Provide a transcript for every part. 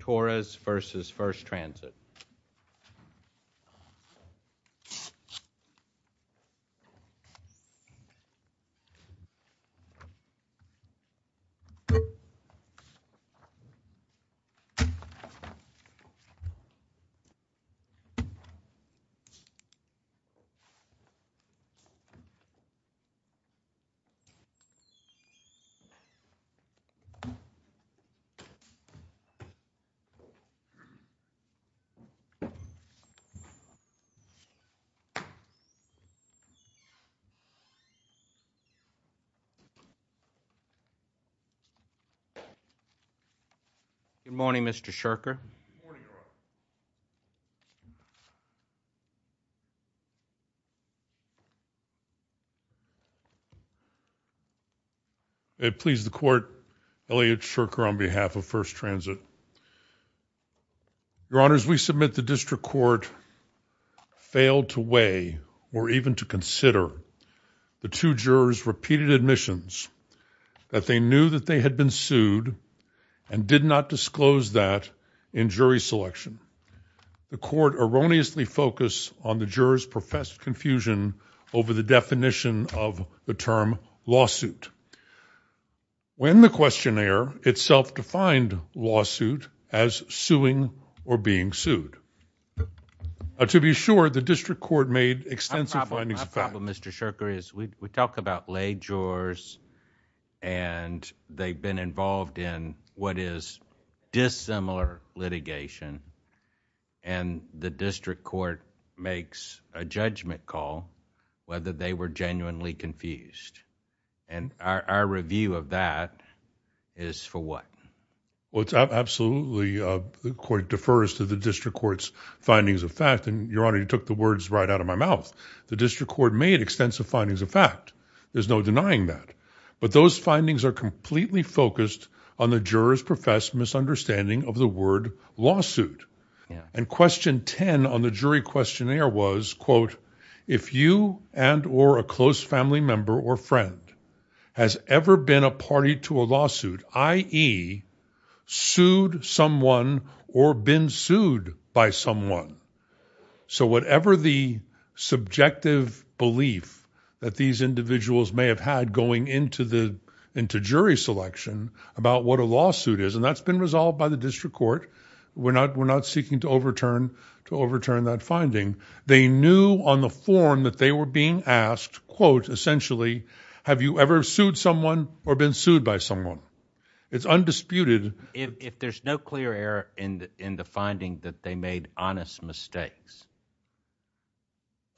Torres v. First Transit. Good morning, Mr. Shurker. Good morning, Your Honor. May it please the Court, Elliot Shurker on behalf of First Transit. Your Honors, we submit the District Court failed to weigh or even to consider the two jurors' repeated admissions, that they knew that they had been sued and did not disclose that in jury selection. And the Court erroneously focused on the jurors' professed confusion over the definition of the term lawsuit, when the questionnaire itself defined lawsuit as suing or being sued. To be sure, the District Court made extensive findings of fact. My problem, Mr. Shurker, is we talk about lay jurors and they've been involved in what is dissimilar litigation, and the District Court makes a judgment call whether they were genuinely confused. And our review of that is for what? Well, it's absolutely, the Court defers to the District Court's findings of fact, and Your Honor, you took the words right out of my mouth. The District Court made extensive findings of fact, there's no denying that. But those findings are completely focused on the jurors' professed misunderstanding of the word lawsuit. And question 10 on the jury questionnaire was, quote, if you and or a close family member or friend has ever been a party to a lawsuit, i.e., sued someone or been sued by someone. So whatever the subjective belief that these individuals may have had going into jury selection about what a lawsuit is, and that's been resolved by the District Court, we're not seeking to overturn that finding. They knew on the form that they were being asked, quote, essentially, have you ever sued someone or been sued by someone? It's undisputed. If there's no clear error in the finding that they made honest mistakes.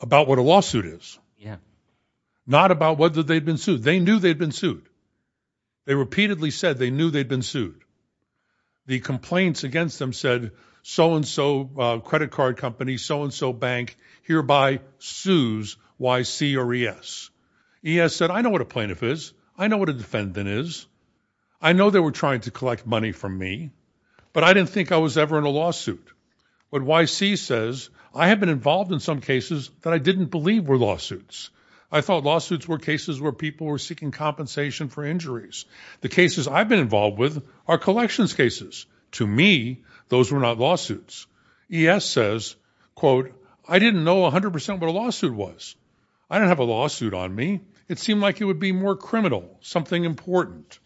About what a lawsuit is. Yeah. Not about whether they'd been sued. They knew they'd been sued. They repeatedly said they knew they'd been sued. The complaints against them said, so-and-so credit card company, so-and-so bank, hereby sues YC or ES. ES said, I know what a plaintiff is, I know what a defendant is, I know they were trying to collect money from me, but I didn't think I was ever in a lawsuit. But YC says, I have been involved in some cases that I didn't believe were lawsuits. I thought lawsuits were cases where people were seeking compensation for injuries. The cases I've been involved with are collections cases. To me, those were not lawsuits. ES says, quote, I didn't know 100% what a lawsuit was. I didn't have a lawsuit on me. It seemed like it would be more criminal, something important.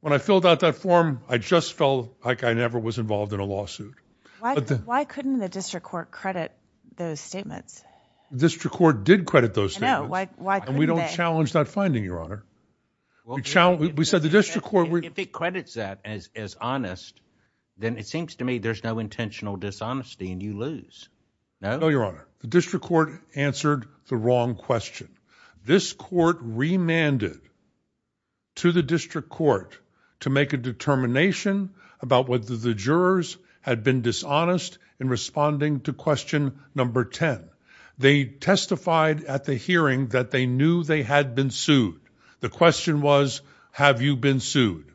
When I filled out that form, I just felt like I never was involved in a lawsuit. Why couldn't the district court credit those statements? The district court did credit those statements. I know. Why couldn't they? And we don't challenge that finding, Your Honor. We said the district court... If it credits that as honest, then it seems to me there's no intentional dishonesty and you lose. No? No, Your Honor. The district court answered the wrong question. This court remanded to the district court to make a determination about whether the jurors had been dishonest in responding to question number 10. They testified at the hearing that they knew they had been sued. The question was, have you been sued?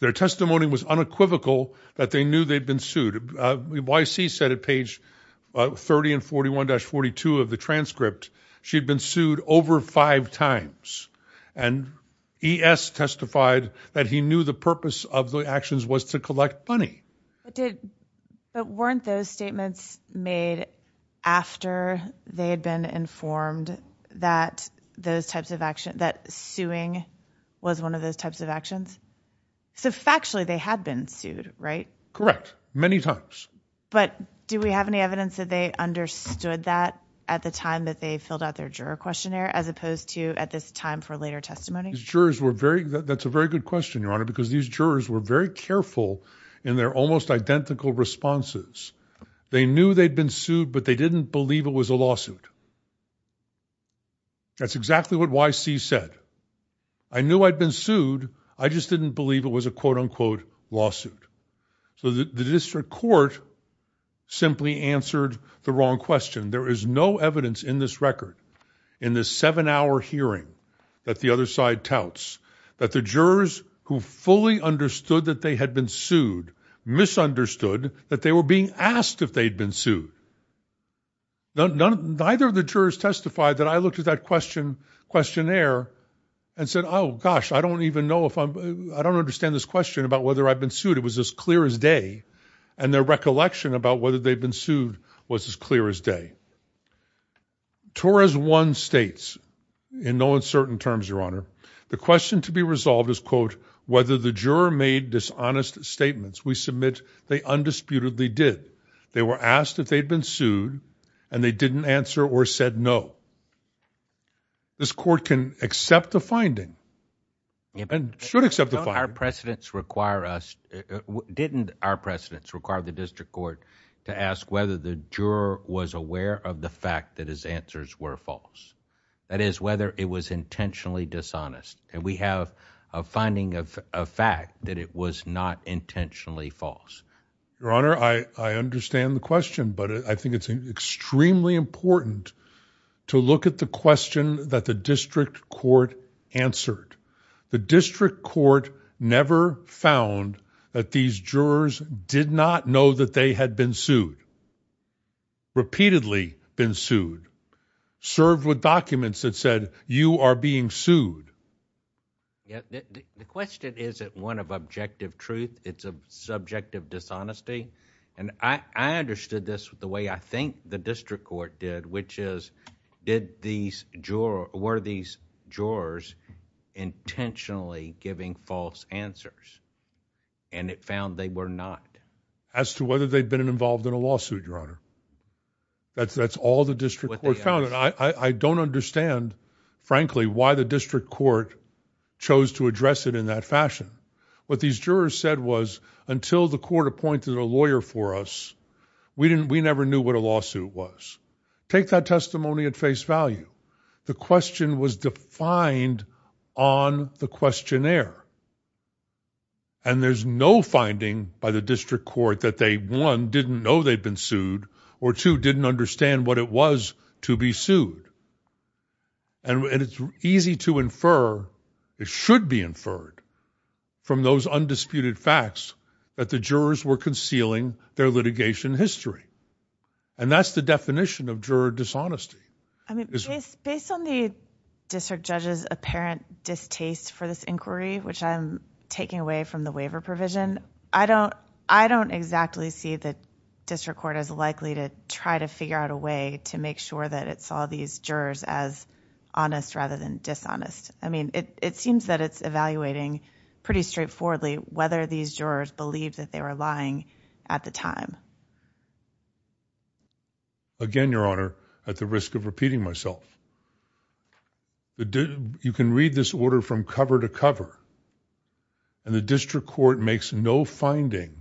Their testimony was unequivocal that they knew they'd been sued. YC said at page 30 and 41-42 of the transcript, she'd been sued over five times. And ES testified that he knew the purpose of the actions was to collect money. But weren't those statements made after they had been informed that those types of actions, that suing was one of those types of actions? So factually, they had been sued, right? Correct. Many times. But do we have any evidence that they understood that at the time that they filled out their juror questionnaire as opposed to at this time for later testimony? These jurors were very... That's a very good question, Your Honor, because these jurors were very careful in their almost identical responses. They knew they'd been sued, but they didn't believe it was a lawsuit. That's exactly what YC said. I knew I'd been sued, I just didn't believe it was a quote-unquote lawsuit. So the district court simply answered the wrong question. There is no evidence in this record, in this seven-hour hearing that the other side touts, that the jurors who fully understood that they had been sued misunderstood that they were being asked if they'd been sued. Neither of the jurors testified that I looked at that questionnaire and said, oh, gosh, I don't even know if I'm... I don't understand this question about whether I've been sued. It was as clear as day, and their recollection about whether they'd been sued was as clear as day. Torres 1 states, in no uncertain terms, Your Honor, the question to be resolved is, quote, whether the juror made dishonest statements. We submit they undisputedly did. They were asked if they'd been sued, and they didn't answer or said no. This court can accept the finding, and should accept the finding. Our precedents require us... Didn't our precedents require the district court to ask whether the juror was aware of the fact that his answers were false? That is, whether it was intentionally dishonest. And we have a finding of fact that it was not intentionally false. Your Honor, I understand the question, but I think it's extremely important to look at the question that the district court answered. The district court never found that these jurors did not know that they had been sued, repeatedly been sued, served with documents that said, you are being sued. The question isn't one of objective truth. It's a subject of dishonesty. And I understood this the way I think the district court did, which is, did these jurors, were these jurors intentionally giving false answers? And it found they were not. As to whether they'd been involved in a lawsuit, Your Honor. That's all the district court found. I don't understand, frankly, why the district court chose to address it in that fashion. What these jurors said was, until the court appointed a lawyer for us, we never knew what a lawsuit was. Take that testimony at face value. The question was defined on the questionnaire. And there's no finding by the district court that they, one, didn't know they'd been sued, or two, didn't understand what it was to be sued. And it's easy to infer, it should be inferred, from those undisputed facts, that the jurors were concealing their litigation history. And that's the definition of juror dishonesty. I mean, based on the district judge's apparent distaste for this inquiry, which I'm taking away from the waiver provision, I don't, I don't exactly see that district court is likely to try to figure out a way to make sure that it saw these jurors as honest rather than dishonest. I mean, it seems that it's evaluating pretty straightforwardly whether these jurors believed that they were lying at the time. Again, Your Honor, at the risk of repeating myself, you can read this order from cover to cover, and the district court makes no finding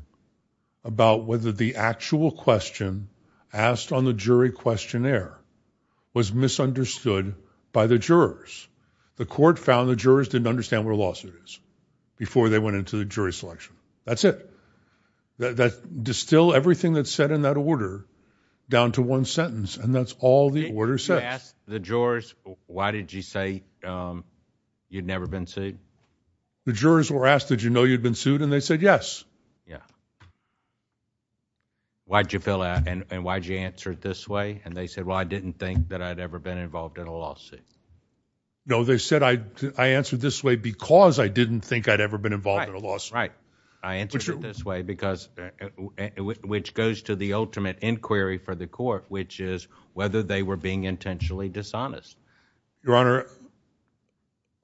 about whether the actual question asked on the jury questionnaire was misunderstood by the jurors. The court found the jurors didn't understand what a lawsuit is before they went into the jury selection. That's it. That, that, distill everything that's said in that order down to one sentence, and that's all the order says. I asked the jurors, why did you say, um, you'd never been sued? The jurors were asked, did you know you'd been sued? And they said yes. Yeah. Why'd you fill out, and, and why'd you answer it this way? And they said, well, I didn't think that I'd ever been involved in a lawsuit. No, they said I, I answered this way because I didn't think I'd ever been involved in a lawsuit. Right, right. I answered it this way because, which goes to the ultimate inquiry for the court, which is whether they were being intentionally dishonest. Your Honor,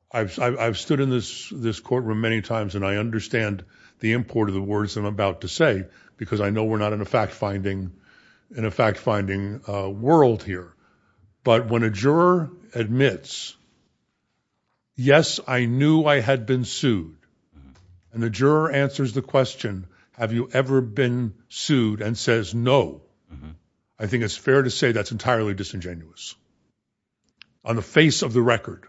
I've, I've, I've stood in this, this courtroom many times, and I understand the import of the words I'm about to say, because I know we're not in a fact finding, in a fact finding, uh, world here. But when a juror admits, yes, I knew I had been sued, and the juror answers the question, have you ever been sued, and says no. I think it's fair to say that's entirely disingenuous, on the face of the record.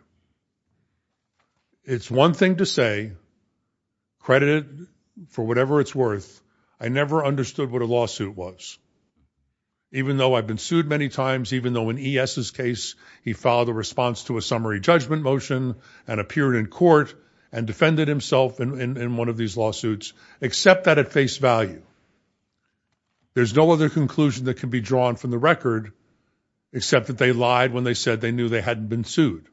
It's one thing to say, credit it for whatever it's worth, I never understood what a lawsuit was, even though I've been sued many times, even though in E.S.'s case, he filed a response to a summary judgment motion, and appeared in court, and defended himself in, in one of these lawsuits, except that at face value. There's no other conclusion that can be drawn from the record, except that they lied when they said they knew they hadn't been sued.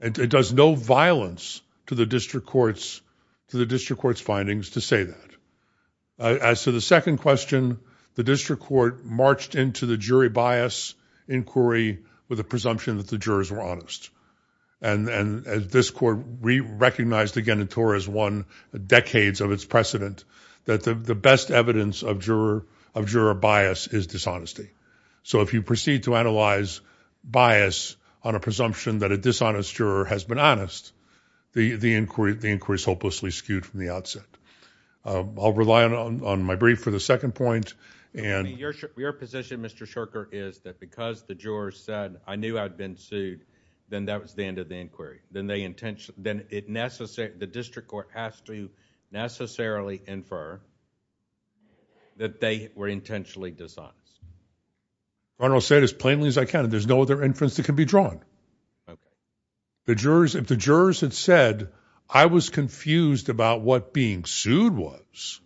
And it does no violence to the district court's, to the district court's findings to say that. As to the second question, the district court marched into the jury bias inquiry with a presumption that the jurors were honest. And, and, as this court, we recognized again in TOR as one, decades of its precedent, that the, the best evidence of juror, of juror bias is dishonesty. So if you proceed to analyze bias on a presumption that a dishonest juror has been honest, the, the inquiry, the inquiry is hopelessly skewed from the outset. I'll rely on, on my brief for the second point, and. Your, your position, Mr. Shurker, is that because the jurors said, I knew I'd been sued, then that was the end of the inquiry. Then they intentionally, then it necessarily, the district court has to necessarily infer that they were intentionally dishonest. I'm going to say it as plainly as I can, there's no other inference that can be drawn. The jurors, if the jurors had said, I was confused about what being sued was,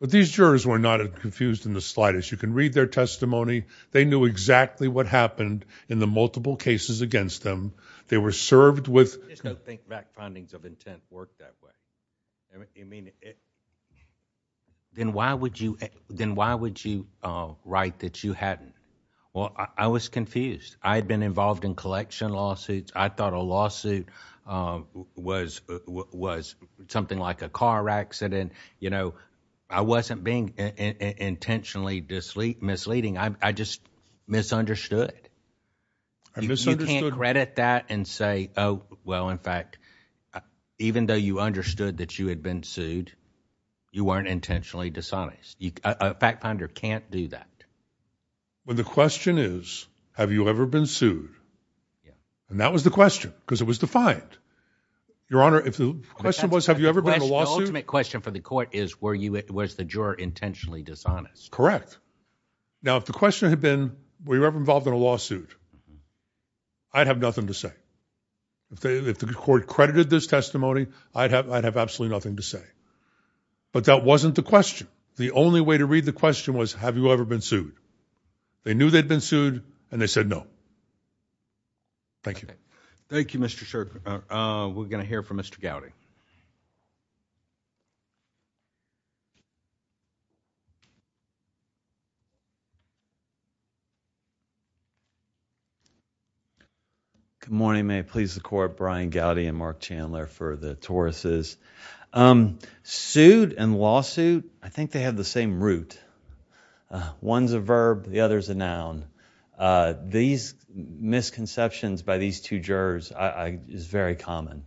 but these jurors were not as confused in the slightest. You can read their testimony. They knew exactly what happened in the multiple cases against them. They were served with. There's no think back findings of intent work that way. I mean, then why would you, then why would you write that you hadn't? Well, I was confused. I had been involved in collection lawsuits. I thought a lawsuit was, was something like a car accident. You know, I wasn't being intentionally misleading. I just misunderstood. I misunderstood. You can't credit that and say, oh, well, in fact, even though you understood that you had been sued, you weren't intentionally dishonest. A fact finder can't do that. Well, the question is, have you ever been sued? And that was the question, because it was defined. Your Honor, if the question was, have you ever been in a lawsuit? The ultimate question for the court is, was the juror intentionally dishonest? Correct. Now, if the question had been, were you ever involved in a lawsuit, I'd have nothing to say. If they, if the court credited this testimony, I'd have, I'd have absolutely nothing to say. But that wasn't the question. The only way to read the question was, have you ever been sued? They knew they'd been sued, and they said no. Thank you. Thank you, Mr. Shirk. We're going to hear from Mr. Gowdy. Good morning, may it please the court, Brian Gowdy and Mark Chandler for the Tauruses. Sued and lawsuit, I think they have the same root. One's a verb, the other's a noun. These misconceptions by these two jurors is very common.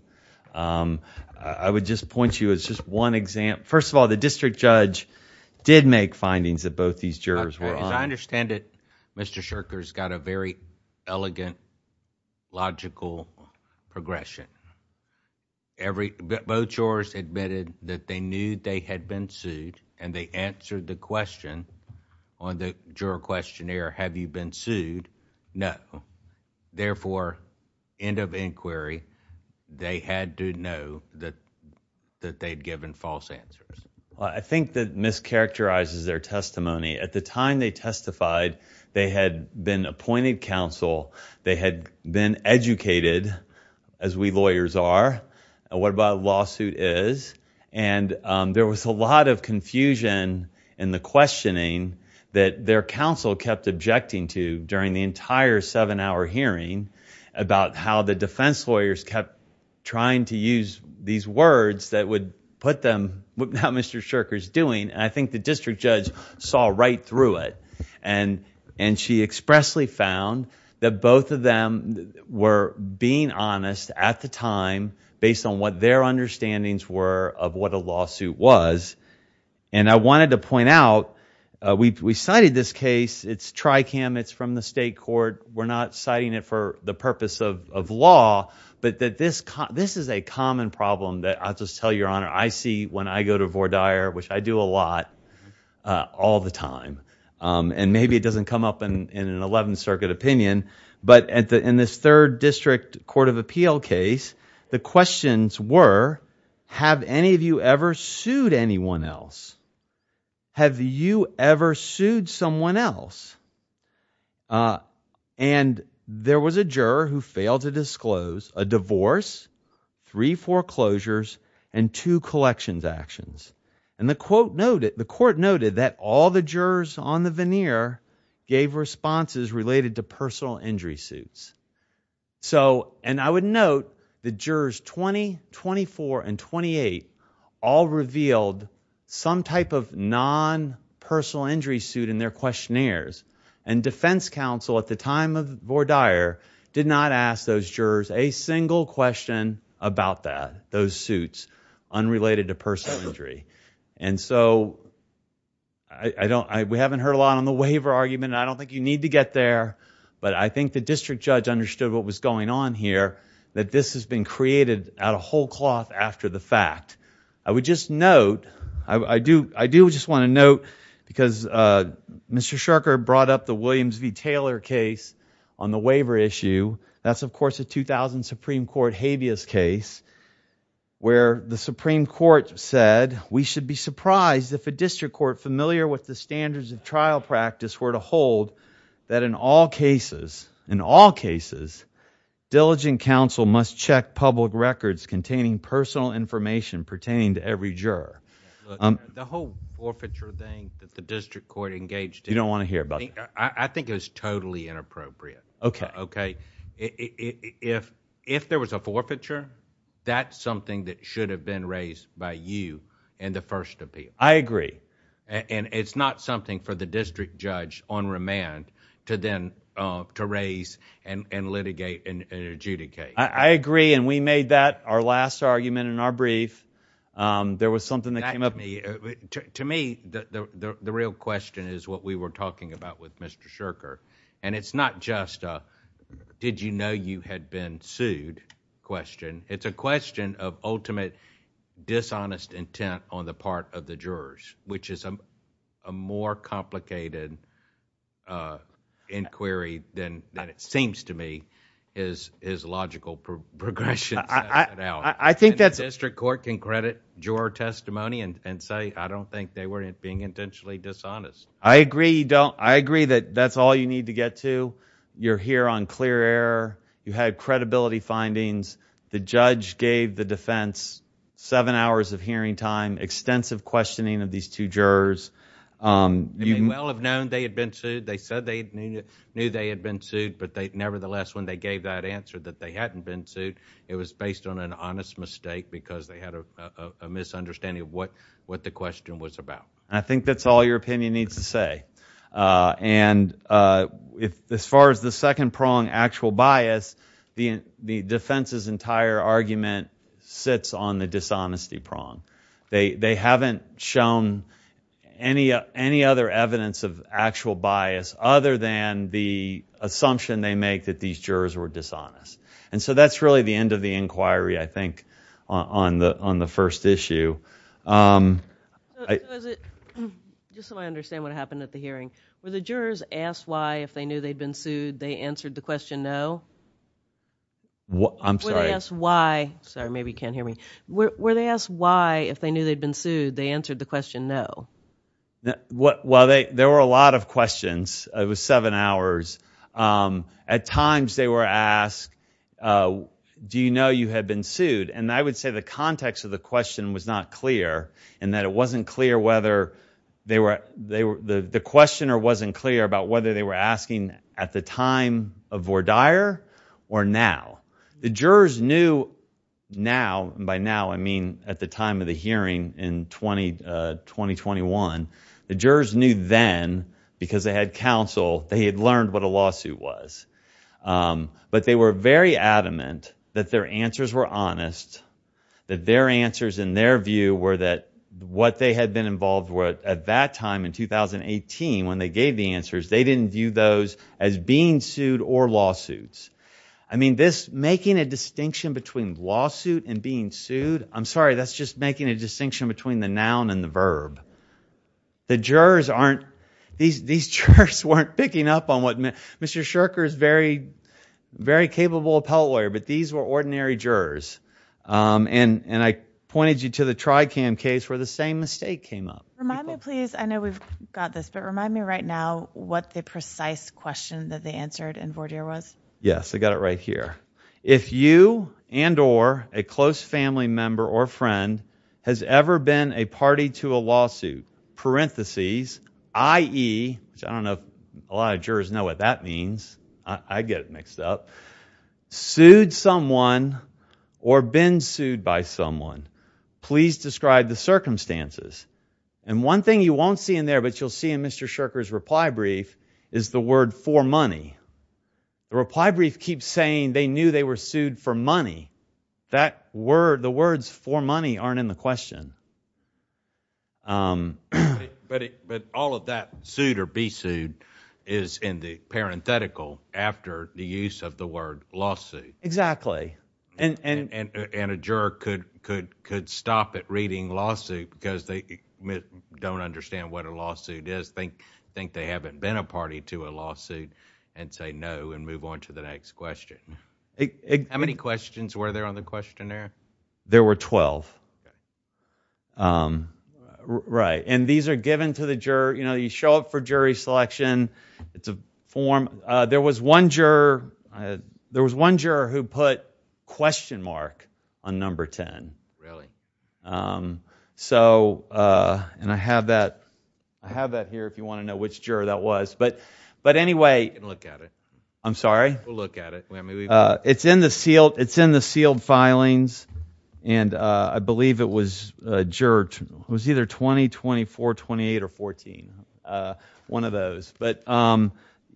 I would just point you as just one example. First of all, the district judge did make findings that both these jurors were on. As I understand it, Mr. Shirk has got a very elegant, logical progression. Both jurors admitted that they knew they had been sued, and they answered the question on the juror questionnaire, have you been sued? No. Therefore, end of inquiry, they had to know that they'd given false answers. I think that mischaracterizes their testimony. At the time they testified, they had been appointed counsel. They had been educated, as we lawyers are, what a lawsuit is. There was a lot of confusion in the questioning that their counsel kept objecting to during the entire seven-hour hearing about how the defense lawyers kept trying to use these words that would put them... what now Mr. Shirk is doing. I think the district judge saw right through it. She expressly found that both of them were being honest at the time based on what their understandings were of what a lawsuit was. I wanted to point out, we cited this case. It's Tricam. It's from the state court. We're not citing it for the purpose of law. This is a common problem that I'll just tell your Honor, I see when I go to Vore Dyer, which I do a lot, all the time. Maybe it doesn't come up in an 11th Circuit opinion, but in this third district court of appeal case, the questions were, have any of you ever sued anyone else? Have you ever sued someone else? There was a juror who failed to disclose a divorce, three foreclosures, and two collections actions. The court noted that all the jurors on the veneer gave responses related to personal injury suits. I would note the jurors 20, 24, and 28 all revealed some type of non-personal injury suit in their questionnaires. Defense counsel at the time of Vore Dyer did not ask those jurors a single question about that, those suits unrelated to personal injury. We haven't heard a lot on the waiver argument. I don't think you need to get there. I think the district judge understood what was going on here, that this has been created out of whole cloth after the fact. I would just note, I do just want to note, because Mr. Shurker brought up the Williams v. Taylor case on the waiver issue. That's of course a 2000 Supreme Court habeas case, where the Supreme Court said, we should be surprised if a district court familiar with the standards of trial practice were to hold that in all cases, in all cases, diligent counsel must check public records containing personal information pertaining to every juror. The whole forfeiture thing that the district court engaged in... You don't want to hear about it. I think it was totally inappropriate. If there was a forfeiture, that's something that should have been raised by you in the first appeal. I agree. It's not something for the district judge on remand to then to raise and litigate and adjudicate. I agree. We made that our last argument in our brief. There was something that came up... To me, the real question is what we were talking about with Mr. Shurker. It's not just a did you know you had been sued question. It's a question of ultimate dishonest intent on the part of the jurors, which is a more complicated inquiry than it seems to me is logical progression. I think that's... The district court can credit juror testimony and say, I don't think they were being intentionally dishonest. I agree. I agree that that's all you need to get to. You're here on clear air. You had credibility findings. The judge gave the defense seven hours of hearing time, extensive questioning of these two jurors. They may well have known they had been sued. They said they knew they had been sued, but nevertheless, when they gave that answer that they hadn't been sued, it was based on an honest mistake because they had a misunderstanding of what the question was about. I think that's all your opinion needs to say. As far as the second prong, actual bias, the defense's entire argument sits on the dishonesty prong. They haven't shown any other evidence of actual bias other than the assumption they make that these jurors were dishonest. That's really the end of the inquiry, I think, on the first issue. Just so I understand what happened at the hearing, were the jurors asked why, if they knew they'd been sued, they answered the question no? I'm sorry. Were they asked why, sorry, maybe you can't hear me, were they asked why, if they knew they'd been sued, they answered the question no? There were a lot of questions. It was seven hours. At times, they were asked, do you know you had been sued? I would say the context of the question was not clear and that it wasn't clear whether they were, the questioner wasn't clear about whether they were asking at the time of Vordaer or now. The jurors knew now, by now I mean at the time of the hearing in 2021, the jurors knew then because they had counsel, they had learned what a lawsuit was. But they were very adamant that their answers were honest, that their answers in their view were that what they had been involved with at that time in 2018 when they gave the answers, they didn't view those as being sued or lawsuits. I mean, this making a distinction between lawsuit and being sued, I'm sorry, that's just making a distinction between the noun and the verb. The jurors aren't, these jurors weren't picking up on what, Mr. Scherker is a very capable appellate lawyer, but these were ordinary jurors. And I pointed you to the Tricam case where the same mistake came up. Remind me please, I know we've got this, but remind me right now what the precise question that they answered in Vordaer was. Yes, I got it right here. If you and or a close family member or friend has ever been a party to a lawsuit, parentheses, i.e., I don't know if a lot of jurors know what that means, I get it mixed up, sued someone or been sued by someone, please describe the circumstances. And one thing you won't see in there but you'll see in Mr. Scherker's reply brief is the word for money. The reply brief keeps saying they knew they were sued for money. That word, the words for money aren't in the question. But all of that, sued or be sued, is in the parenthetical after the use of the word lawsuit. Exactly. And a juror could stop at reading lawsuit because they don't understand what a lawsuit is, think they haven't been a party to a lawsuit and say no and move on to the next question. How many questions were there on the questionnaire? There were twelve. And these are given to the juror, you show up for jury selection, it's a form. There was one juror who put question mark on number ten. Really? So and I have that here if you want to know which juror that was. But anyway. We can look at it. I'm sorry? We'll look at it. It's in the sealed filings and I believe it was juror, it was either 20, 24, 28 or 14, one of those. But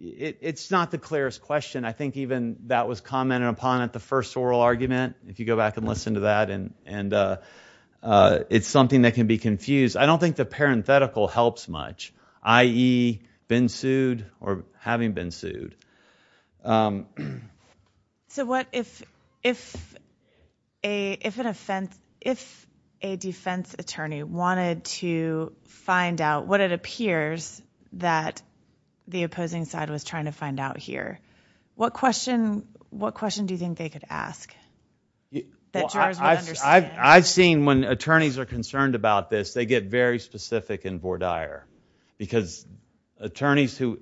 it's not the clearest question. I think even that was commented upon at the first oral argument. If you go back and listen to that, and it's something that can be confused. I don't think the parenthetical helps much, i.e., been sued or having been sued. So what if an offense, if a defense attorney wanted to find out what it appears that the opposing side was trying to find out here? What question do you think they could ask that jurors would understand? I've seen when attorneys are concerned about this, they get very specific and vordire. Because attorneys who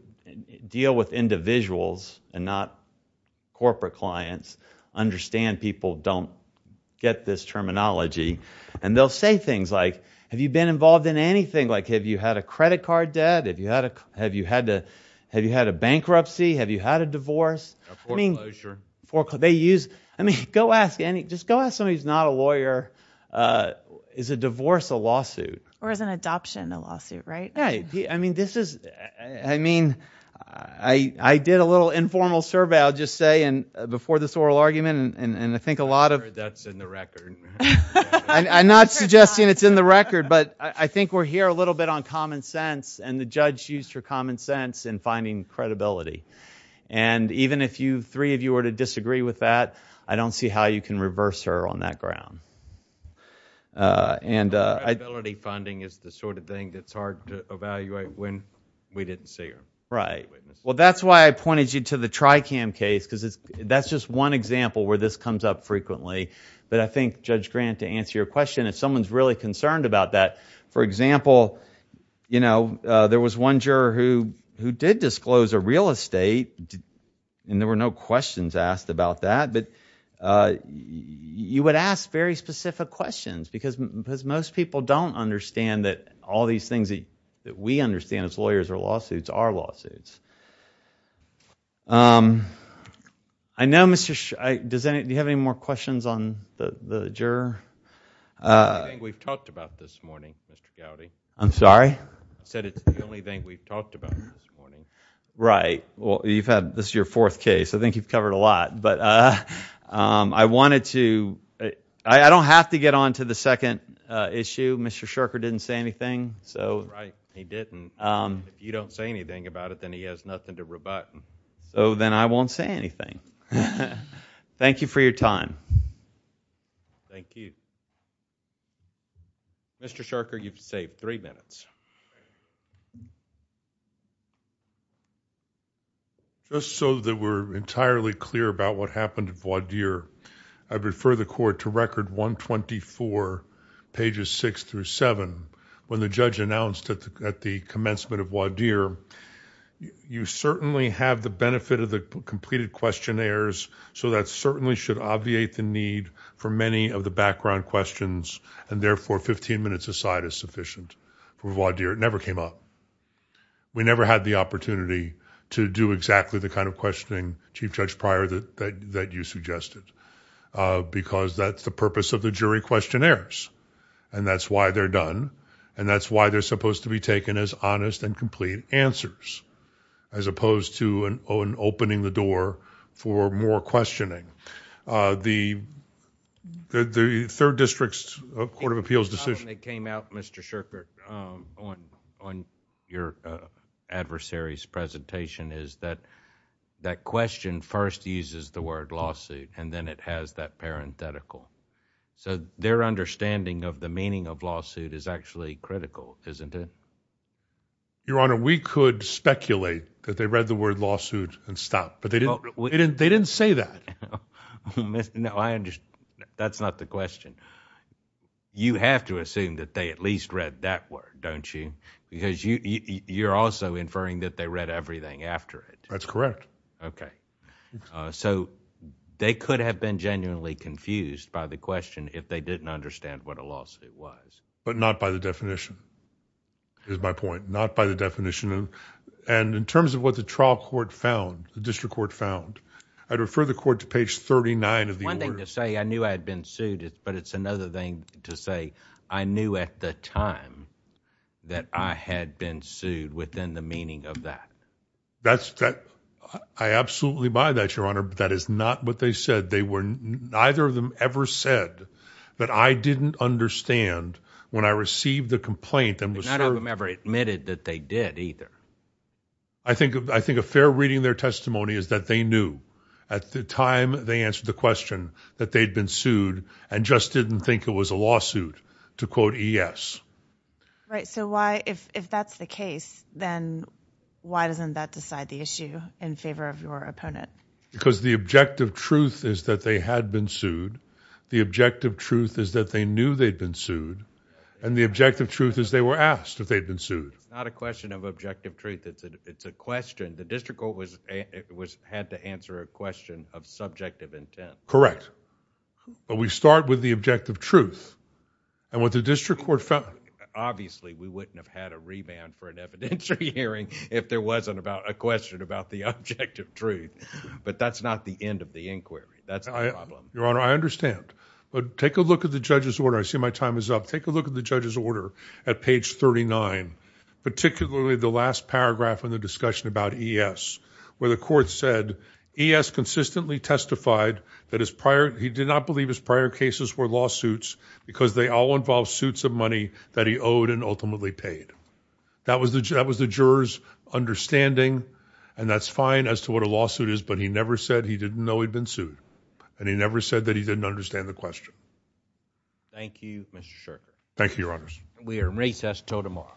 deal with individuals and not corporate clients understand people don't get this terminology. And they'll say things like, have you been involved in anything? Like have you had a credit card debt? Have you had a bankruptcy? Have you had a divorce? A foreclosure. I mean, go ask any, just go ask somebody who's not a lawyer, is a divorce a lawsuit? Or is an adoption a lawsuit, right? Yeah. I mean, this is, I mean, I did a little informal survey, I'll just say, before this oral argument, and I think a lot of I'm sure that's in the record. I'm not suggesting it's in the record, but I think we're here a little bit on common sense and finding credibility. And even if three of you were to disagree with that, I don't see how you can reverse her on that ground. And credibility funding is the sort of thing that's hard to evaluate when we didn't see her. Right. Well, that's why I pointed you to the TRICAM case, because that's just one example where this comes up frequently. But I think, Judge Grant, to answer your question, if someone's really concerned about that, for example, there was one juror who did disclose a real estate, and there were no questions asked about that, but you would ask very specific questions, because most people don't understand that all these things that we understand as lawyers or lawsuits are lawsuits. I know Mr.... do you have any more questions on the juror? It's the only thing we've talked about this morning, Mr. Gowdy. I'm sorry? I said it's the only thing we've talked about this morning. Right. Well, you've had... this is your fourth case. I think you've covered a lot. But I wanted to... I don't have to get on to the second issue. Mr. Sherker didn't say anything. So... Right. He didn't. If you don't say anything about it, then he has nothing to rebut. So then I won't say anything. Thank you for your time. Thank you. Thank you. Mr. Sherker, you've saved three minutes. Just so that we're entirely clear about what happened at Waudeer, I refer the Court to Record 124, pages 6-7. When the judge announced at the commencement of Waudeer, you certainly have the benefit of the completed questionnaires, so that certainly should obviate the need for many of the background questions, and therefore 15 minutes aside is sufficient for Waudeer. It never came up. We never had the opportunity to do exactly the kind of questioning, Chief Judge Pryor, that you suggested, because that's the purpose of the jury questionnaires. And that's why they're done, and that's why they're supposed to be taken as honest and complete answers, as opposed to an opening the door for more questioning. The Third District's Court of Appeals decision... It was not when it came out, Mr. Sherker, on your adversary's presentation, is that that question first uses the word lawsuit, and then it has that parenthetical. So their understanding of the meaning of lawsuit is actually critical, isn't it? Your Honor, we could speculate that they read the word lawsuit and stopped, but they didn't say that. No, I understand. That's not the question. You have to assume that they at least read that word, don't you? Because you're also inferring that they read everything after it. That's correct. Okay. So they could have been genuinely confused by the question if they didn't understand what a lawsuit was. But not by the definition, is my point. Not by the definition. And in terms of what the trial court found, the district court found, I'd refer the court to page 39 of the order. One thing to say, I knew I had been sued, but it's another thing to say, I knew at the time that I had been sued within the meaning of that. I absolutely buy that, Your Honor, but that is not what they said. Neither of them ever said that I didn't understand when I received the complaint and was served... I think a fair reading of their testimony is that they knew at the time they answered the question that they'd been sued and just didn't think it was a lawsuit, to quote E.S. Right. So why, if that's the case, then why doesn't that decide the issue in favor of your opponent? Because the objective truth is that they had been sued. The objective truth is that they knew they'd been sued. And the objective truth is they were asked if they'd been sued. It's not a question of objective truth. It's a question. The district court had to answer a question of subjective intent. Correct. But we start with the objective truth. And what the district court found... Obviously, we wouldn't have had a remand for an evidentiary hearing if there wasn't a question about the objective truth. But that's not the end of the inquiry. That's the problem. Your Honor, I understand. But take a look at the judge's order. I see my time is up. Take a look at the judge's order at page 39, particularly the last paragraph in the discussion about E.S., where the court said, E.S. consistently testified that his prior... he did not believe his prior cases were lawsuits because they all involved suits of money that he owed and ultimately paid. That was the juror's understanding. And that's fine as to what a lawsuit is. But he never said he didn't know he'd been sued. And he never said that he didn't understand the question. Thank you, Mr. Shirk. Thank you, Your Honors. We are in recess until tomorrow.